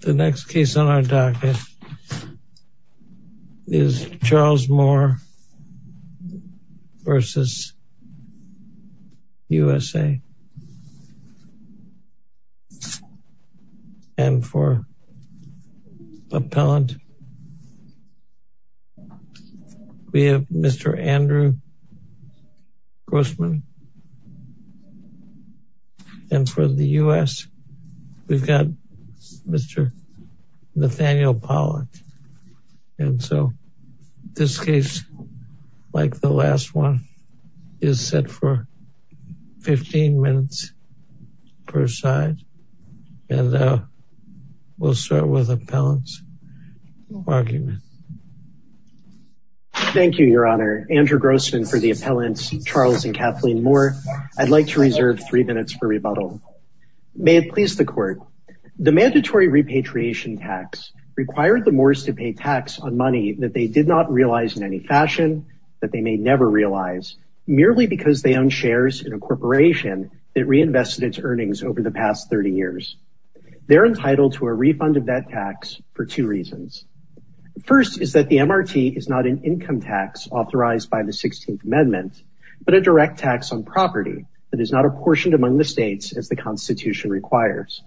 The next case on our docket is Charles Moore v. USA and for Appellant we have Mr. Andrew Grossman and for the U.S. we've got Mr. Nathaniel Pollack and so this case like the last one is set for 15 minutes per side and we'll start with Appellant's argument. Thank you your honor Andrew Grossman for the appellants Charles and Kathleen Moore I'd like to reserve three minutes for rebuttal. May it please the court the mandatory repatriation tax required the Moores to pay tax on money that they did not realize in any fashion that they may never realize merely because they own shares in a corporation that reinvested its earnings over the past 30 years. They're entitled to a refund of that tax for two reasons. First is that the MRT is not an income tax authorized by the 16th amendment but a direct tax on property that is not apportioned among the states as the Constitution requires.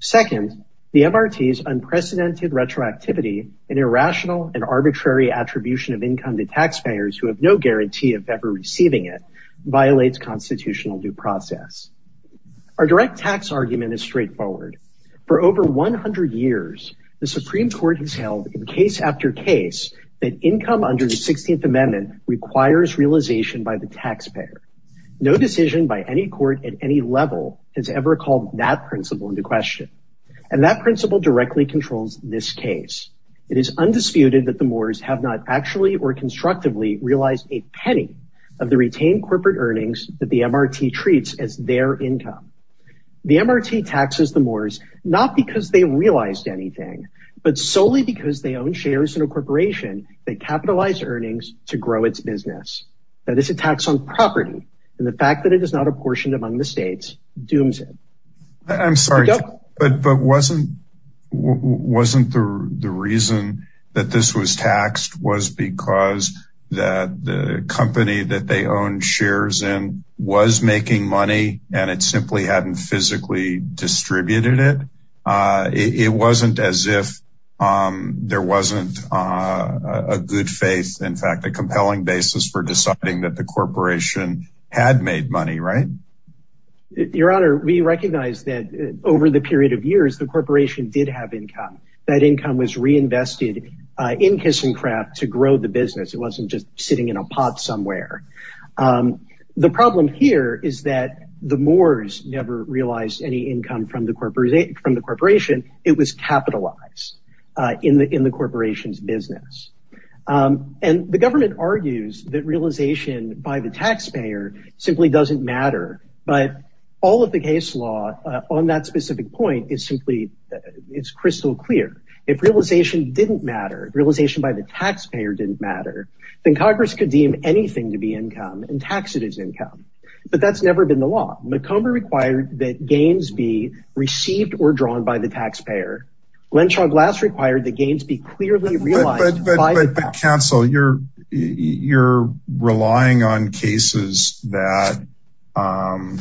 Second the MRT's unprecedented retroactivity an irrational and arbitrary attribution of income to taxpayers who have guarantee of ever receiving it violates constitutional due process. Our direct tax argument is straightforward. For over 100 years the Supreme Court has held in case after case that income under the 16th amendment requires realization by the taxpayer. No decision by any court at any level has ever called that principle into question and that principle directly controls this case. It is undisputed that the Moores have not actually or constructively realized a penny of the retained corporate earnings that the MRT treats as their income. The MRT taxes the Moores not because they realized anything but solely because they own shares in a corporation that capitalized earnings to grow its business. Now this attacks on property and the fact that it is apportioned among the states dooms it. I'm sorry but but wasn't wasn't the reason that this was taxed was because that the company that they owned shares in was making money and it simply hadn't physically distributed it. It wasn't as if there wasn't a good faith in fact a compelling basis for deciding that the corporation had made money right? Your honor we recognize that over the period of years the corporation did have income. That income was reinvested in Kiss and Craft to grow the business. It wasn't just sitting in a pot somewhere. The problem here is that the Moores never realized any income from the corporation. From the corporation it was capitalized in the in the corporation's business and the government argues that realization by the taxpayer simply doesn't matter but all of the case law on that specific point is simply it's crystal clear. If realization didn't matter realization by the taxpayer didn't matter then Congress could deem anything to be income and tax it as income. But that's never been the law. McComber required that gains be received or drawn by the taxpayer. Glenshaw Glass required the gains be clearly realized. But counsel you're you're relying on cases that our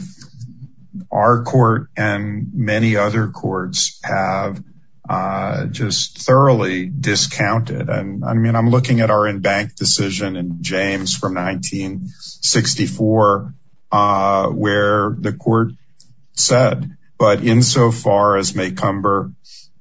court and many other courts have just thoroughly discounted and I mean I'm looking at our in-bank decision in James from 1964 where the court said but insofar as McComber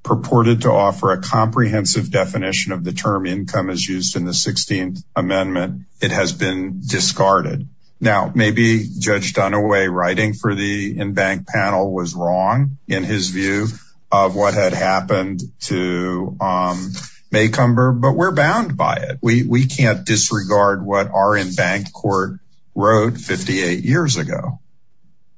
purported to offer a comprehensive definition of the term income as used in the 16th amendment it has been discarded. Now maybe Judge Dunaway writing for the in-bank panel was wrong in his view of what had happened to McComber but we're bound by it. We can't disregard what our in-bank court wrote 58 years ago.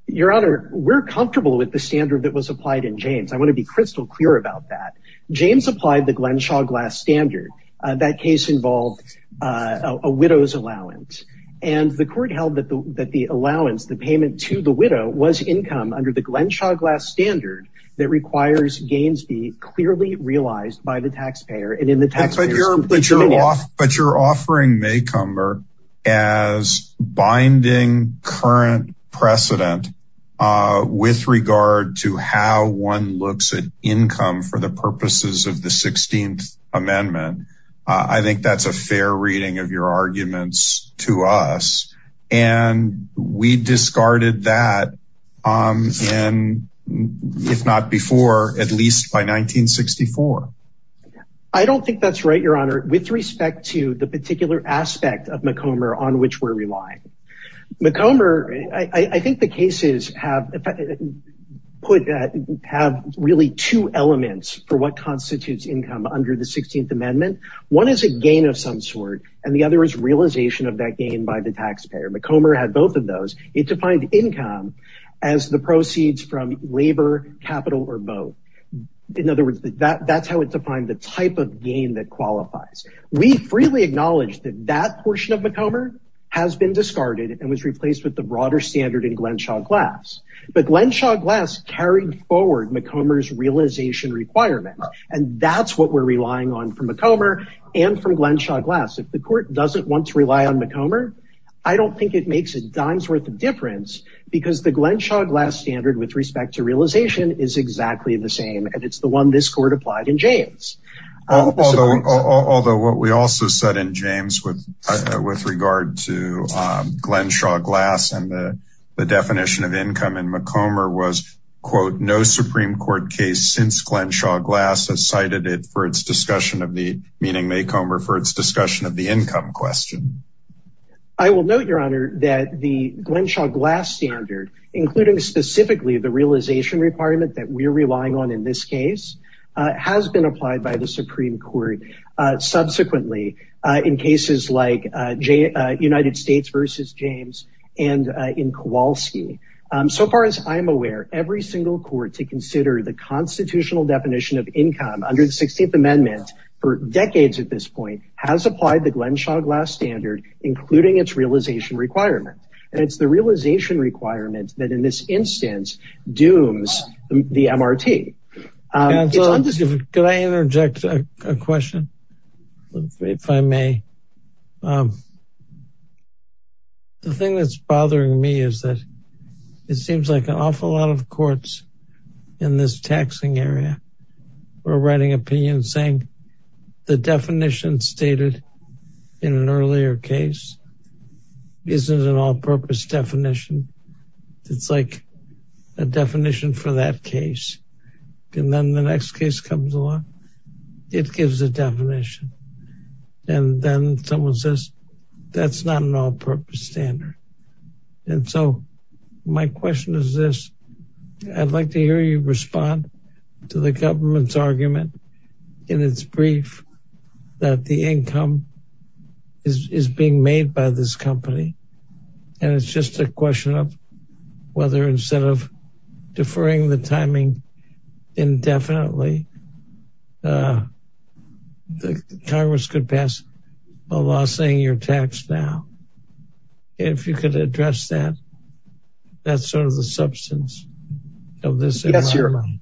Your honor we're comfortable with the standard that was applied in James. I want to be crystal clear about that. James applied the Glenshaw Glass standard. That case involved a widow's allowance and the court held that the that the allowance the payment to the widow was income under the Glenshaw Glass standard that requires gains be clearly realized by the taxpayer but you're offering McComber as binding current precedent with regard to how one looks at income for the purposes of the 16th amendment. I think that's a fair reading of your arguments to us and we discarded that if not before at least by 1964. I don't think that's right your honor with respect to the particular aspect of McComber on which we're relying. McComber I think the cases have put that have really two elements for what constitutes income under the 16th amendment. One is a gain of some sort and the other is realization of that gain by the taxpayer. McComber had both of those. It defined income as the proceeds from labor capital or both. In other words that that's how it defined the type of gain that qualifies. We freely acknowledge that that portion of McComber has been discarded and was replaced with the broader standard in Glenshaw Glass but Glenshaw Glass carried forward McComber's realization requirement and that's what we're relying on from McComber and from Glenshaw Glass. If the court doesn't want to rely on McComber I don't think it makes a dime's worth of difference because the Glenshaw Glass standard with respect to realization is exactly the same and it's the one this court applied in James. Although what we also said in James with with regard to Glenshaw Glass and the the definition of income in McComber was quote no supreme court case since Glenshaw Glass has meaning McComber for its discussion of the income question. I will note your honor that the Glenshaw Glass standard including specifically the realization requirement that we're relying on in this case has been applied by the supreme court subsequently in cases like United States versus James and in Kowalski. So far as I'm aware every single court to consider the constitutional definition of income under the 16th amendment for decades at this point has applied the Glenshaw Glass standard including its realization requirement and it's the realization requirement that in this instance dooms the MRT. Could I interject a question if I may? The thing that's bothering me is that it seems like an awful lot of courts in this taxing area were writing opinions saying the definition stated in an earlier case isn't an all-purpose definition it's like a definition for that case and then the next case comes along it gives a definition and then someone says that's not an all-purpose standard and so my question is this I'd like to hear you respond to the government's argument in its brief that the income is is being made by this company and it's just a question of whether instead of deferring the timing indefinitely the congress could pass a law saying you're taxed now if you could address that that's sort of the substance of this. Yes your honor.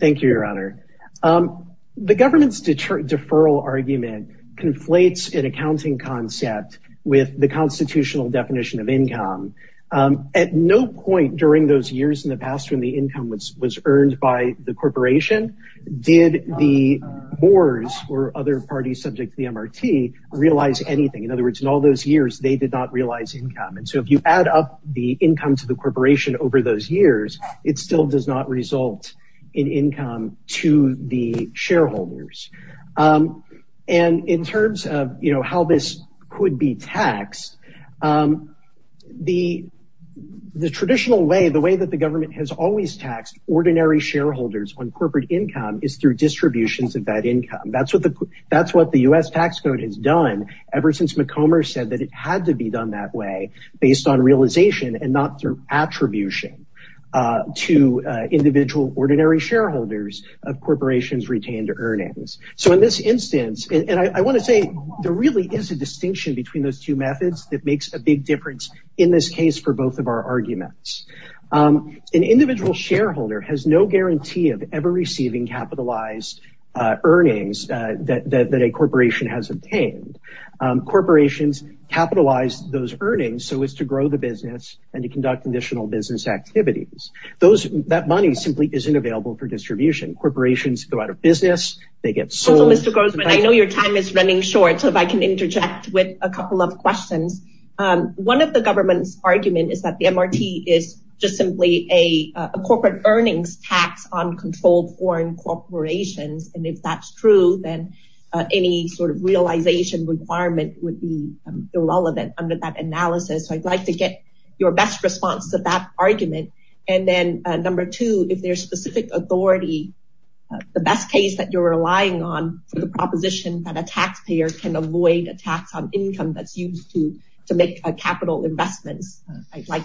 Thank you your honor. The government's deferral argument conflates an accounting concept with the constitutional definition of income. At no point during those years in the past when the income was was earned by the corporation did the bores or other parties subject to the MRT realize anything in other words in all those years they did not realize income and so if you add up the income to the corporation over those years it still does not result in income to the shareholders and in terms of you know how this could be taxed the the traditional way the way that the government has always taxed ordinary shareholders on corporate income is through distributions of that income that's what the that's what the U.S. tax code has done ever since McComber said that it had to be done that way based on realization and not through attribution to individual ordinary shareholders of corporations retained earnings. So in this instance and I want to say there really is a distinction between those two methods that makes a big difference in this case for both of our arguments. An individual shareholder has no guarantee of ever receiving capitalized earnings that that a corporation has obtained. Corporations capitalize those earnings so as to grow the business and to conduct additional business activities. Those that money simply isn't available for distribution. Corporations go out of business they get sold. Mr. Grossman I know your time is running short so if I can interject with a couple of questions. One of the government's argument is that the MRT is just simply a corporate earnings tax on controlled foreign corporations and if that's true then any sort of realization requirement would be irrelevant under that analysis. So I'd like to get your best response to that argument and then number two if there's a specific authority the best case that you're relying on for the proposition that a taxpayer can avoid a tax on income that's used to to make a capital investments I'd like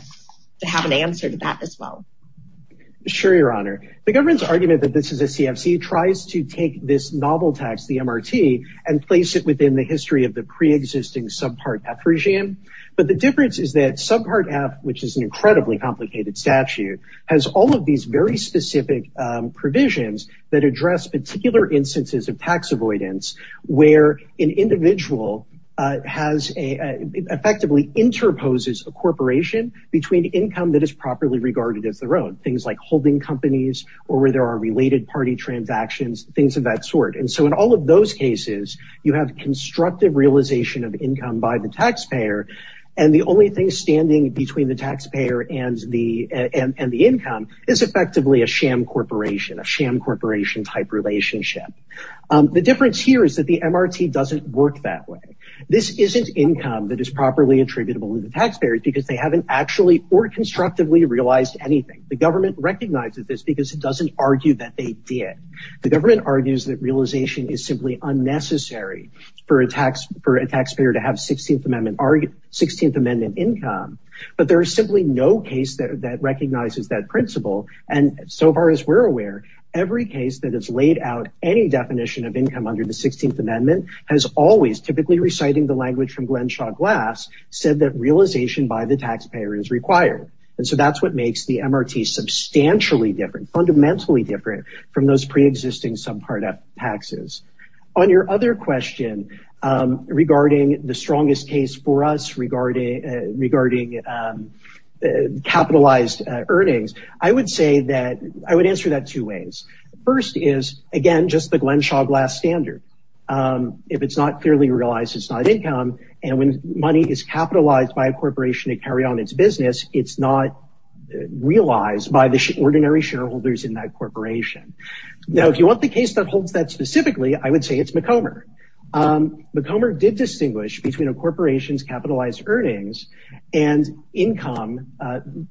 to have an answer to that as well. Sure your honor the government's argument that this is a CFC tries to take this novel tax the MRT and place it within the history of the pre-existing subpart F regime but the difference is that subpart F which is an incredibly complicated statute has all of these very specific provisions that address particular instances of tax avoidance where an individual has a effectively interposes a corporation between income that is properly regarded as their own. Things like holding companies or where there are related party transactions things of that sort and so in all of those cases you have constructive realization of income by the taxpayer and the corporation a sham corporation type relationship. The difference here is that the MRT doesn't work that way this isn't income that is properly attributable to the taxpayer because they haven't actually or constructively realized anything the government recognizes this because it doesn't argue that they did. The government argues that realization is simply unnecessary for a tax for a taxpayer to have 16th amendment argument 16th amendment income but there is simply no case that recognizes that principle and so far as we're aware every case that has laid out any definition of income under the 16th amendment has always typically reciting the language from glenshaw glass said that realization by the taxpayer is required and so that's what makes the MRT substantially different fundamentally different from those pre-existing subpart F capitalized earnings. I would say that I would answer that two ways first is again just the glenshaw glass standard if it's not clearly realized it's not income and when money is capitalized by a corporation to carry on its business it's not realized by the ordinary shareholders in that corporation. Now if you want the case that holds that specifically I would say McComer. McComer did distinguish between a corporation's capitalized earnings and income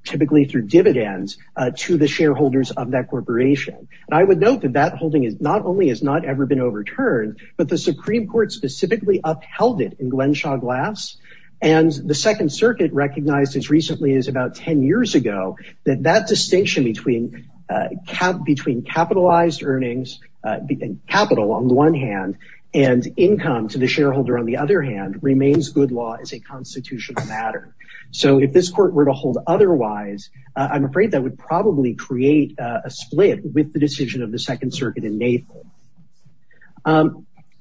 typically through dividends to the shareholders of that corporation and I would note that that holding is not only has not ever been overturned but the supreme court specifically upheld it in glenshaw glass and the second circuit recognized as recently as about 10 years ago that that and income to the shareholder on the other hand remains good law as a constitutional matter. So if this court were to hold otherwise I'm afraid that would probably create a split with the decision of the second circuit in Mayfair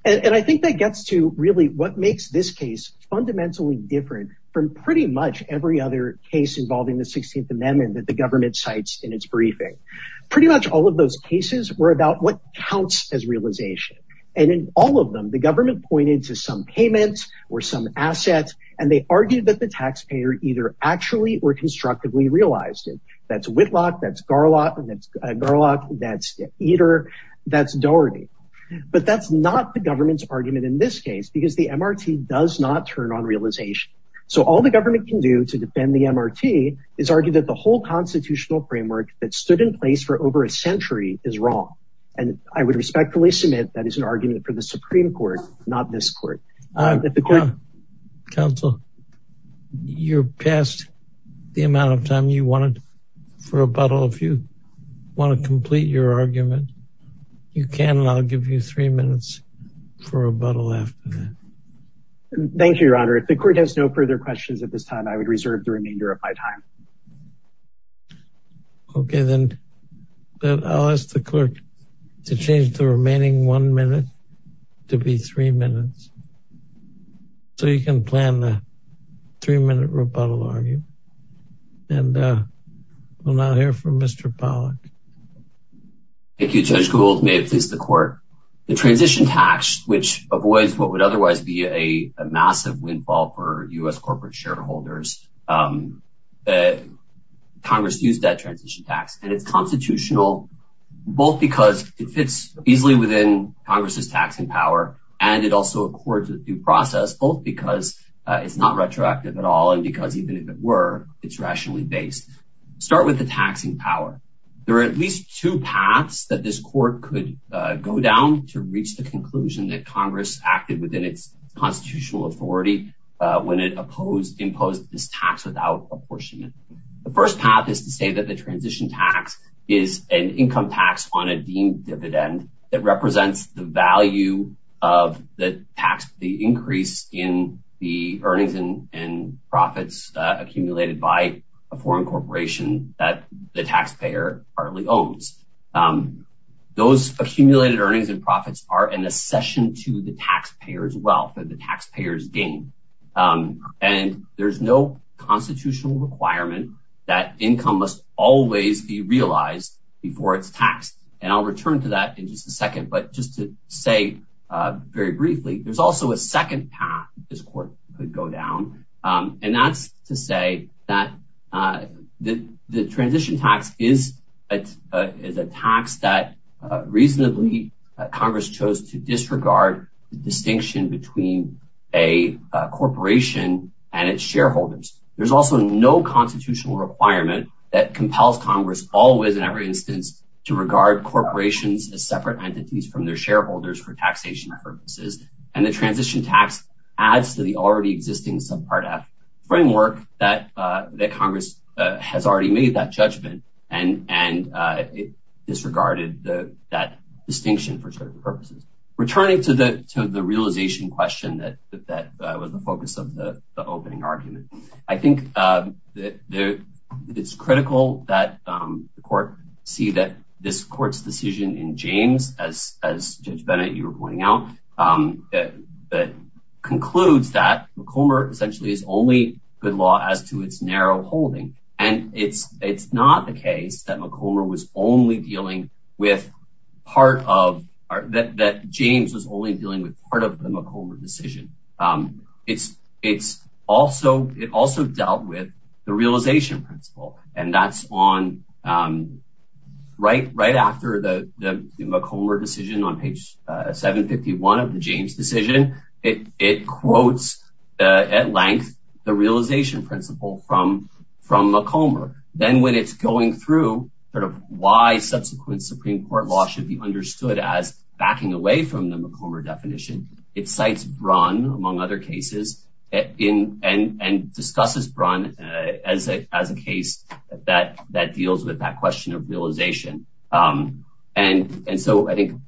and I think that gets to really what makes this case fundamentally different from pretty much every other case involving the 16th amendment that the government cites in its briefing. Pretty much all of those cases were about what counts as realization and in all of them the government pointed to some payments or some assets and they argued that the taxpayer either actually or constructively realized it. That's Whitlock, that's Garlock and that's Garlock, that's Eder, that's Doherty but that's not the government's argument in this case because the MRT does not turn on realization. So all the government can do to defend the MRT is argue that the whole constitutional framework that stood in place for over a century is wrong and I would respectfully submit that is an argument for the Supreme Court not this court. Counsel, you're past the amount of time you wanted for rebuttal. If you want to complete your argument you can and I'll give you three minutes for rebuttal after that. Thank you, your honor. If the court has no further questions at this time I would reserve the remainder of my time. Okay, then I'll ask the clerk to change the remaining one minute to be three minutes so you can plan the three-minute rebuttal argument and we'll now hear from Mr. Pollack. Thank you, Judge Gould. May it please the court. The transition tax which avoids what would otherwise be a massive windfall for U.S. corporate shareholders, Congress used that transition tax and it's constitutional both because it fits easily within Congress's taxing power and it also accords with due process both because it's not retroactive at all and because even if it were it's rationally based. Start with the taxing power. There are at least two paths that this court could go down to reach the conclusion that Congress acted within its constitutional authority when it imposed this tax without apportionment. The first path is to say that the transition tax is an income tax on a deemed dividend that represents the value of the tax, the increase in the earnings and profits accumulated by a foreign corporation that the taxpayer partly owns. Those accumulated earnings and profits are an accession to the taxpayer's wealth that the taxpayers gain and there's no constitutional requirement that income must always be realized before it's taxed and I'll return to that in just a second but just to say very briefly there's also a second path this court could go down and that's to say that the transition tax is a tax that reasonably Congress chose to disregard the distinction between a corporation and its shareholders. There's also no constitutional requirement that compels Congress always in every instance to regard corporations as separate entities from their shareholders for taxation purposes and the transition tax adds to the already existing subpart f framework that Congress has already made that judgment and disregarded that distinction for certain purposes. Returning to the realization question that was the focus of the opening argument, I think that it's critical that the court see that this court's decision in James as Judge Bennett you were pointing out that concludes that McCormick essentially is only good law as to its narrow holding and it's not the case that James was only dealing with part of the McCormick decision. It also dealt with the realization principle and that's on right after the McCormick decision on page 751 of the James decision. It quotes at length the realization principle from McCormick then when it's going through sort of why subsequent Supreme Court law should be understood as backing away from the McCormick definition, it cites Braun among other cases and discusses Braun as a case that deals with that question of realization and so I think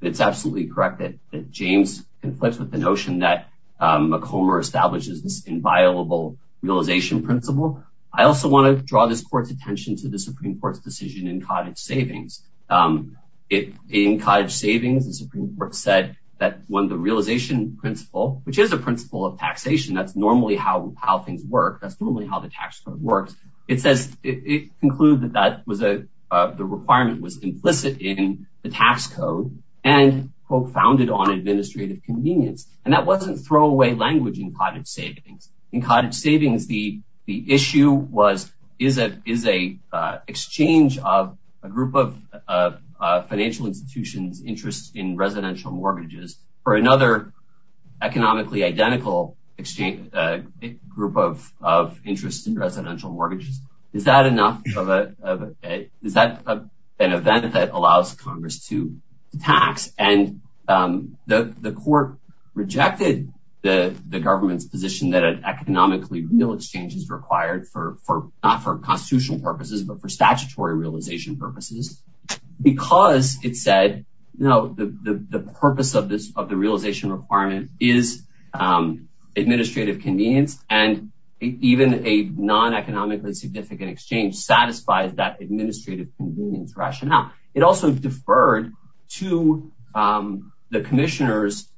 it's absolutely correct that James conflicts with the notion that McCormick establishes this inviolable realization principle. I also want to draw this court's attention to the Supreme Court's decision in cottage savings. In cottage savings, the Supreme Court said that when the realization principle, which is a principle of taxation, that's normally how how things work, that's normally how the tax code works, it says it concluded that that was a the requirement was implicit in the tax code and quote founded on administrative convenience and that wasn't throwaway language in cottage savings. In cottage residential mortgages for another economically identical exchange, a group of of interest in residential mortgages, is that enough of a is that an event that allows Congress to tax and the the court rejected the the government's position that an economically real exchange is required for for not for constitutional purposes but for statutory realization purposes because it said you know the the purpose of this of the realization requirement is administrative convenience and even a non-economically significant exchange satisfies that administrative convenience rationale. It also deferred to the commissioner's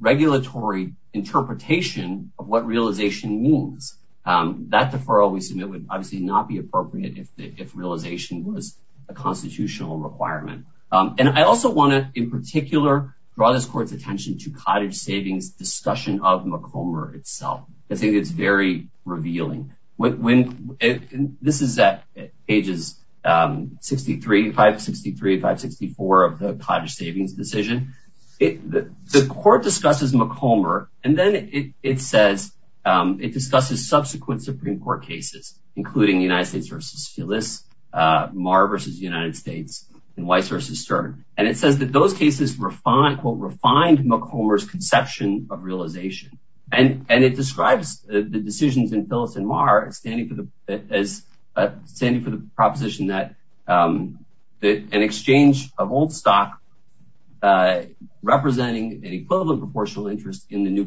regulatory interpretation of what realization means. That deferral we submit would obviously not be appropriate if the if realization was a constitutional requirement and I also want to in particular draw this court's attention to cottage savings discussion of McComber itself. I think it's very revealing when this is at pages 63, 563, 564 of the cottage savings decision. The court discusses McComber and then it it says it discusses subsequent Supreme Court cases including United States versus Phyllis, Marr versus United States and Weiss versus Stern and it says that those cases refined quote refined McComber's conception of realization and and it describes the decisions in Phyllis and Marr standing for the as standing for the proposition that that an exchange of old stock representing an equivalent proportional interest in the new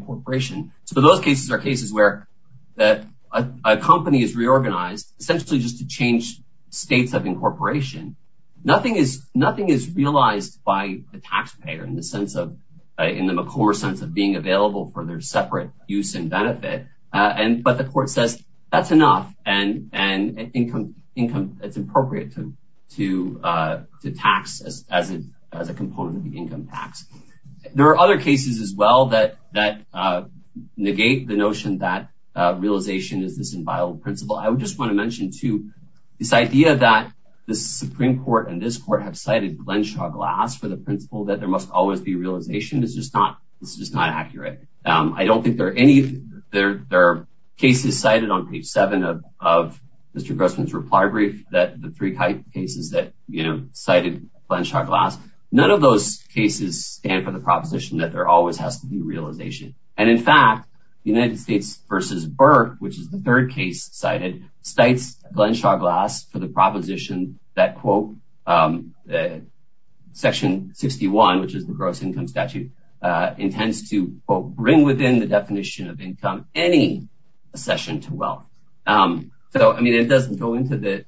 essentially just to change states of incorporation. Nothing is nothing is realized by the taxpayer in the sense of in the McComber sense of being available for their separate use and benefit and but the court says that's enough and and income income it's appropriate to to to tax as as a as a component of the income tax. There are other cases as well that that negate the notion that realization is this inviolable principle. I would just want to mention too this idea that the Supreme Court and this court have cited Glenshaw-Glass for the principle that there must always be realization is just not it's just not accurate. I don't think there are any there there are cases cited on page seven of of Mr. Grossman's reply brief that the three cases that you know cited Glenshaw-Glass none of those cases stand for the proposition that there always has to be realization and in fact the United States versus Burke which is the third case cited cites Glenshaw-Glass for the proposition that quote section 61 which is the gross income statute uh intends to quote bring within the definition of income any accession to wealth um so I mean it doesn't go into the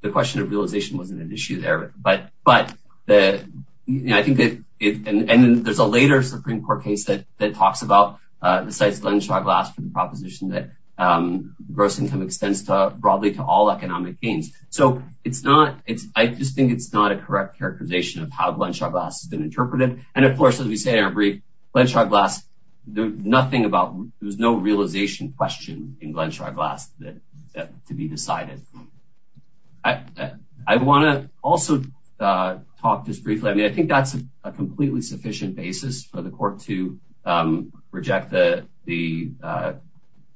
the question of realization wasn't an issue there but but the you know I think and then there's a later Supreme Court case that that talks about uh besides Glenshaw-Glass for the proposition that um gross income extends to broadly to all economic gains so it's not it's I just think it's not a correct characterization of how Glenshaw-Glass has been interpreted and of course as we say in our brief Glenshaw-Glass there's nothing about there was no realization question in Glenshaw-Glass that to be decided. I want to also uh talk just briefly I mean I think that's a completely sufficient basis for the court to um reject the the uh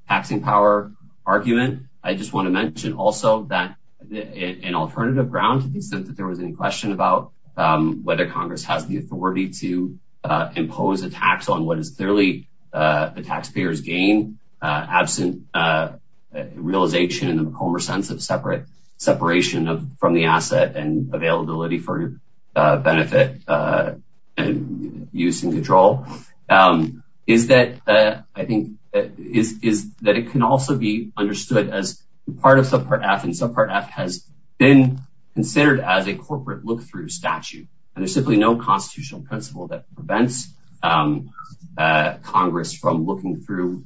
taxing power argument. I just want to mention also that an alternative ground to the extent that there was any question about um whether Congress has the authority to uh impose a tax on what is clearly uh the taxpayers gain uh absent uh realization in the McCormick sense of separate separation of from the asset and availability for uh benefit uh and use and control um is that uh I think is is that it can also be understood as part of subpart f and subpart f has been considered as a corporate look-through statute and there's simply no constitutional principle that prevents um uh Congress from looking through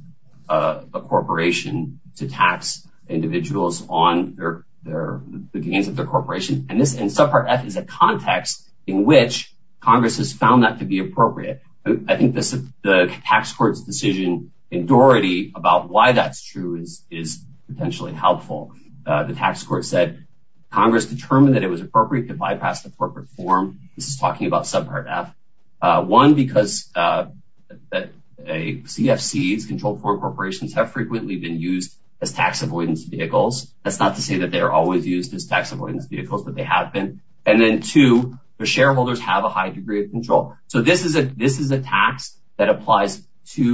uh a corporation to tax individuals on their their the gains of corporation and this in subpart f is a context in which Congress has found that to be appropriate. I think this the tax court's decision in Doherty about why that's true is is potentially helpful. Uh the tax court said Congress determined that it was appropriate to bypass the corporate form. This is talking about subpart f uh one because uh that a cfc's controlled foreign corporations have frequently been used as tax avoidance vehicles. That's not to say that they are always used as tax avoidance vehicles but they have been and then two the shareholders have a high degree of control so this is a this is a tax that applies to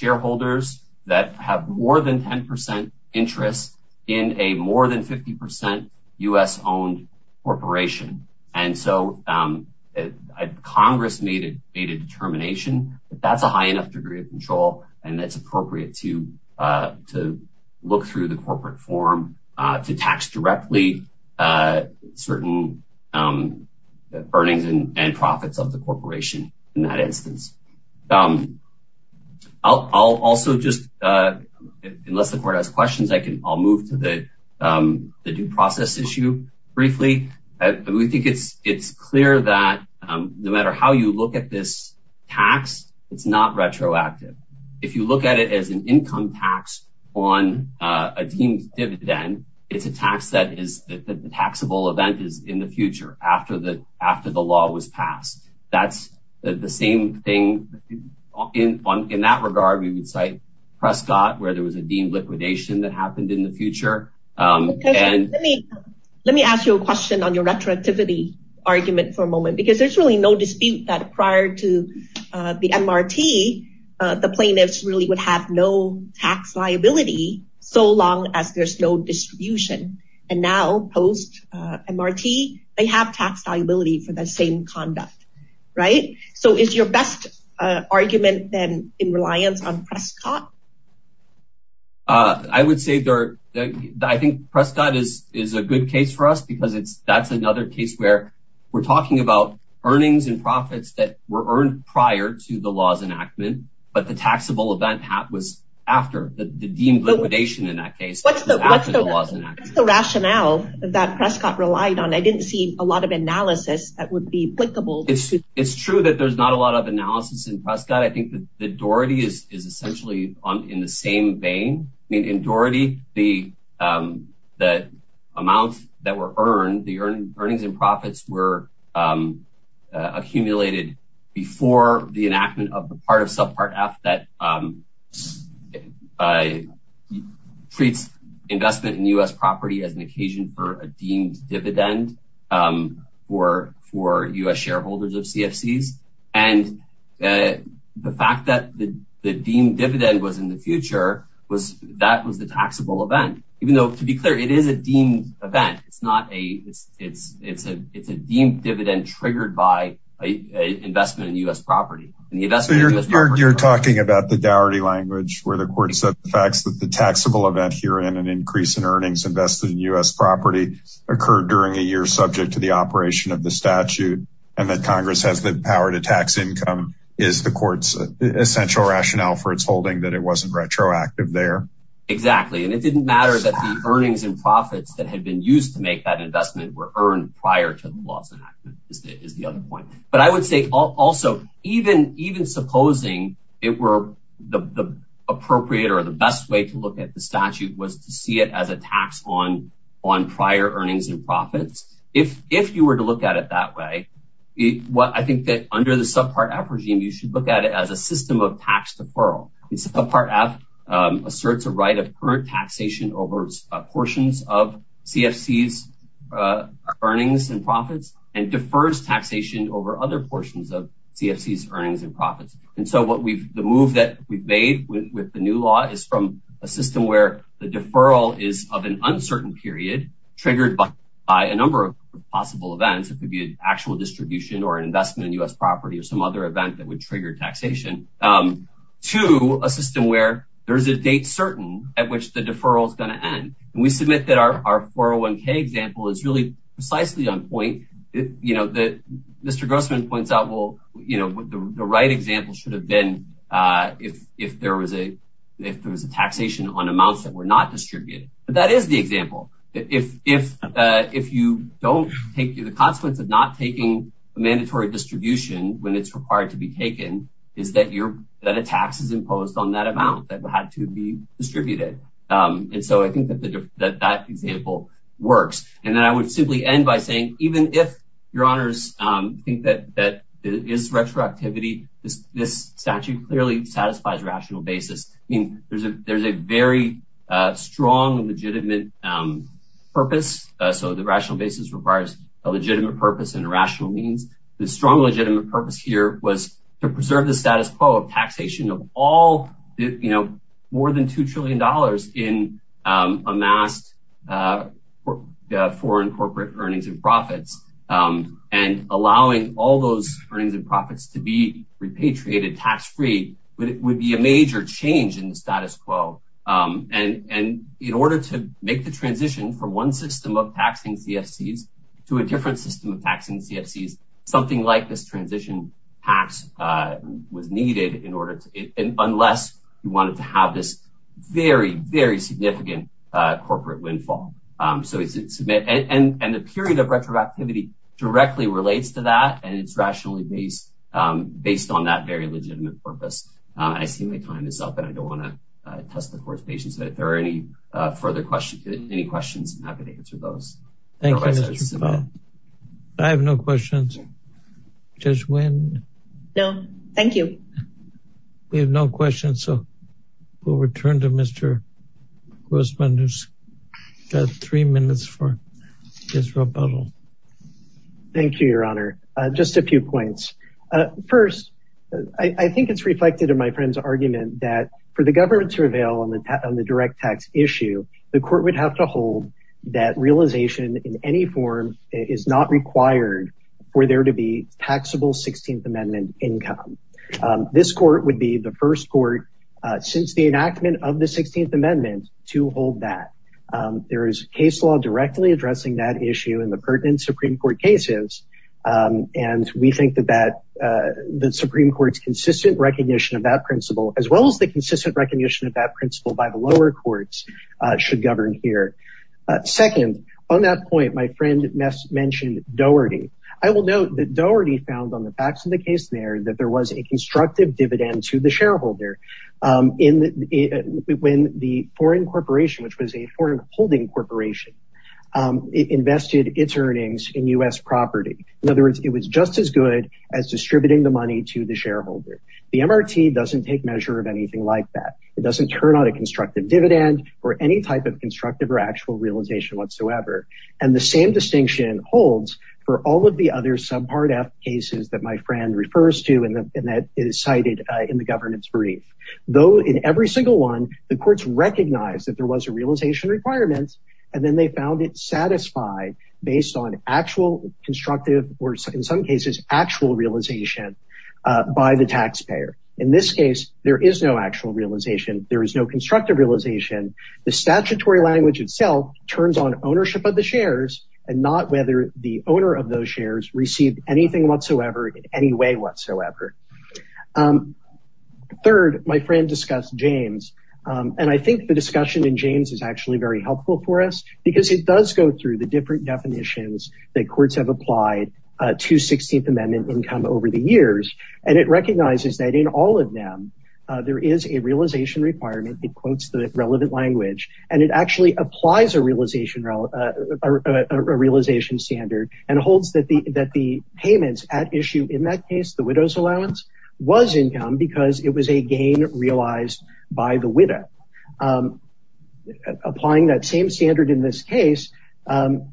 shareholders that have more than 10 percent interest in a more than 50 percent U.S. owned corporation and so um Congress made it made a determination that that's a high enough degree of control and it's appropriate to uh to look through the corporate form uh to tax directly uh certain um earnings and and profits of the corporation in that instance. Um I'll I'll also just uh unless the court has questions I can I'll move to the um the due process issue briefly. We think it's it's clear that um no matter how you look at this tax it's not retroactive. If you look at it as an income tax on a team's dividend it's a tax that is the taxable event is in the future after the after the law was passed. That's the same thing in in that regard we would cite Prescott where there was a deemed liquidation that happened in the future um and let me let me ask you a question on your retroactivity argument for a moment because there's really no dispute that prior to uh the MRT uh the plaintiffs really would have no tax liability so long as there's no distribution and now post uh MRT they have tax liability for the same conduct right so is your best uh argument then in reliance on Prescott? Uh I would say there I think Prescott is is a good case for us because it's that's another case where we're talking about earnings and profits that were earned prior to the law's enactment but the taxable event was after the deemed liquidation in that case. What's the what's the rationale that Prescott relied on? I didn't see a lot of analysis that would be applicable. It's it's true that there's not a lot of analysis in Prescott. I think that the in the same vein I mean in Doherty the um the amount that were earned the earnings and profits were um uh accumulated before the enactment of the part of subpart f that um uh treats investment in U.S. property as an occasion for a deemed dividend um for for U.S. shareholders of dividend was in the future was that was the taxable event even though to be clear it is a deemed event it's not a it's it's a it's a deemed dividend triggered by a investment in U.S. property and the investment you're talking about the Doherty language where the court said the facts that the taxable event here in an increase in earnings invested in U.S. property occurred during a year subject to the operation of the statute and that congress has the power to tax is the court's essential rationale for its holding that it wasn't retroactive there exactly and it didn't matter that the earnings and profits that had been used to make that investment were earned prior to the loss enactment is the other point but I would say also even even supposing it were the the appropriate or the best way to look at the statute was to see it as a tax on on prior earnings and profits if if you were to look at it that way what I think that under the subpart app regime you should look at it as a system of tax deferral it's a part app um asserts a right of current taxation over its portions of cfc's uh earnings and profits and defers taxation over other portions of cfc's earnings and profits and so what we've the move that we've made with the new law is from a system where the deferral is of an uncertain period triggered by by a number of possible events it could be an actual distribution or an investment in u.s property or some other event that would trigger taxation um to a system where there's a date certain at which the deferral is going to end and we submit that our 401k example is really precisely on point you know that mr grossman points out well you know the right example should have been uh if if there was a if there was a taxation on amounts that were not distributed but that is the example if if uh if you don't take the consequence of not taking a mandatory distribution when it's required to be taken is that you're that a tax is imposed on that amount that had to be distributed um and so i think that the that that example works and then i would simply end by saying even if your honors um think that that is retroactivity this this statute clearly satisfies rational basis i mean there's a there's a very uh strong legitimate um purpose so the rational basis requires a legitimate purpose and a rational means the strong legitimate purpose here was to preserve the status quo of taxation of all you know more than two trillion dollars in um amassed uh foreign corporate earnings and profits um and allowing all those earnings and profits to be repatriated tax-free would be a major change in the status quo um and and in order to make the transition from one system of taxing cfc's to a different system of taxing cfc's something like this transition tax uh was needed in order to unless you wanted to have this very very significant uh corporate windfall um so it's and the period of retroactivity directly relates to that and it's rationally based um based on that very legitimate purpose i see my time is up and i don't want to uh test the court's patience but if there are any uh further questions any questions i'm happy to answer those thank you i have no questions just when no thank you we have no questions so we'll return to mr grossman who's got three minutes for his rebuttal thank you your honor uh just a few points uh first i i think it's reflected in my friend's argument that for the government to avail on the on the direct tax issue the court would have to hold that realization in any form is not required for there to be taxable 16th amendment income this court would be the first court since the enactment of the 16th amendment to hold that there is case law directly addressing that issue in the pertinent supreme court cases and we think that that the supreme court's consistent recognition of that principle as well as the consistent recognition of that principle by the lower courts should govern here second on that point my friend mentioned doherty i will note that doherty found on the facts of the case there that there was a constructive dividend to the shareholder in when the foreign corporation which was a foreign holding corporation invested its earnings in u.s property in other words it was just as good as distributing the money to the shareholder the mrt doesn't take measure of anything like that it doesn't turn on a constructive dividend or any type of constructive or actual realization whatsoever and the same distinction holds for all the other subpart f cases that my friend refers to and that is cited in the government's brief though in every single one the courts recognized that there was a realization requirement and then they found it satisfied based on actual constructive or in some cases actual realization by the taxpayer in this case there is no actual realization there is no constructive realization the statutory language itself turns on ownership of the shares and not whether the owner of those received anything whatsoever in any way whatsoever third my friend discussed james and i think the discussion in james is actually very helpful for us because it does go through the different definitions that courts have applied to 16th amendment income over the years and it recognizes that in all of them there is a realization requirement it quotes the relevant language and it actually applies a realization uh a realization standard and holds that the that the payments at issue in that case the widow's allowance was income because it was a gain realized by the widow um applying that same standard in this case um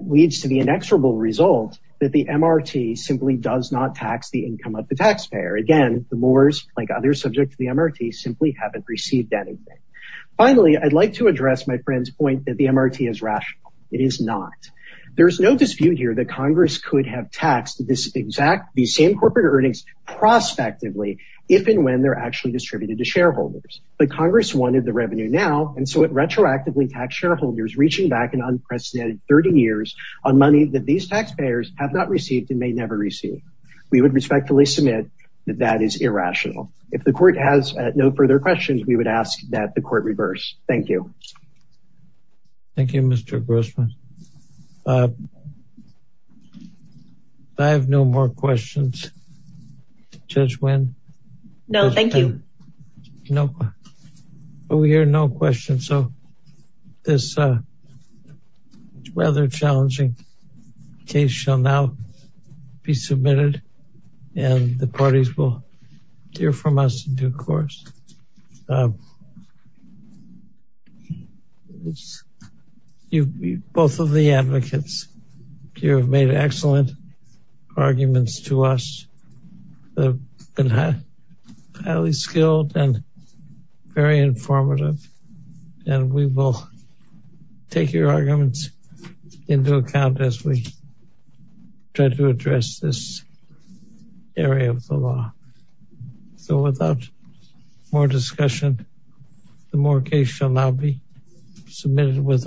leads to the inexorable result that the mrt simply does not tax the income of the taxpayer again the moors like others subject to the mrt simply haven't received anything finally i'd like to address my friend's point that the mrt is rational it is not there's no dispute here that congress could have taxed this exact these same corporate earnings prospectively if and when they're actually distributed to shareholders but congress wanted the revenue now and so it retroactively taxed shareholders reaching back an unprecedented 30 years on money that these taxpayers have not if the court has no further questions we would ask that the court reverse thank you thank you mr grossman i have no more questions judge when no thank you no but we hear no questions so this uh rather challenging case shall now be submitted and the parties will hear from us in due course um it's you both of the advocates you have made excellent arguments to us they've been highly skilled and very informative and we will take your arguments into account as we try to address this area of the law so without more discussion the mortgage shall now be submitted with our thanks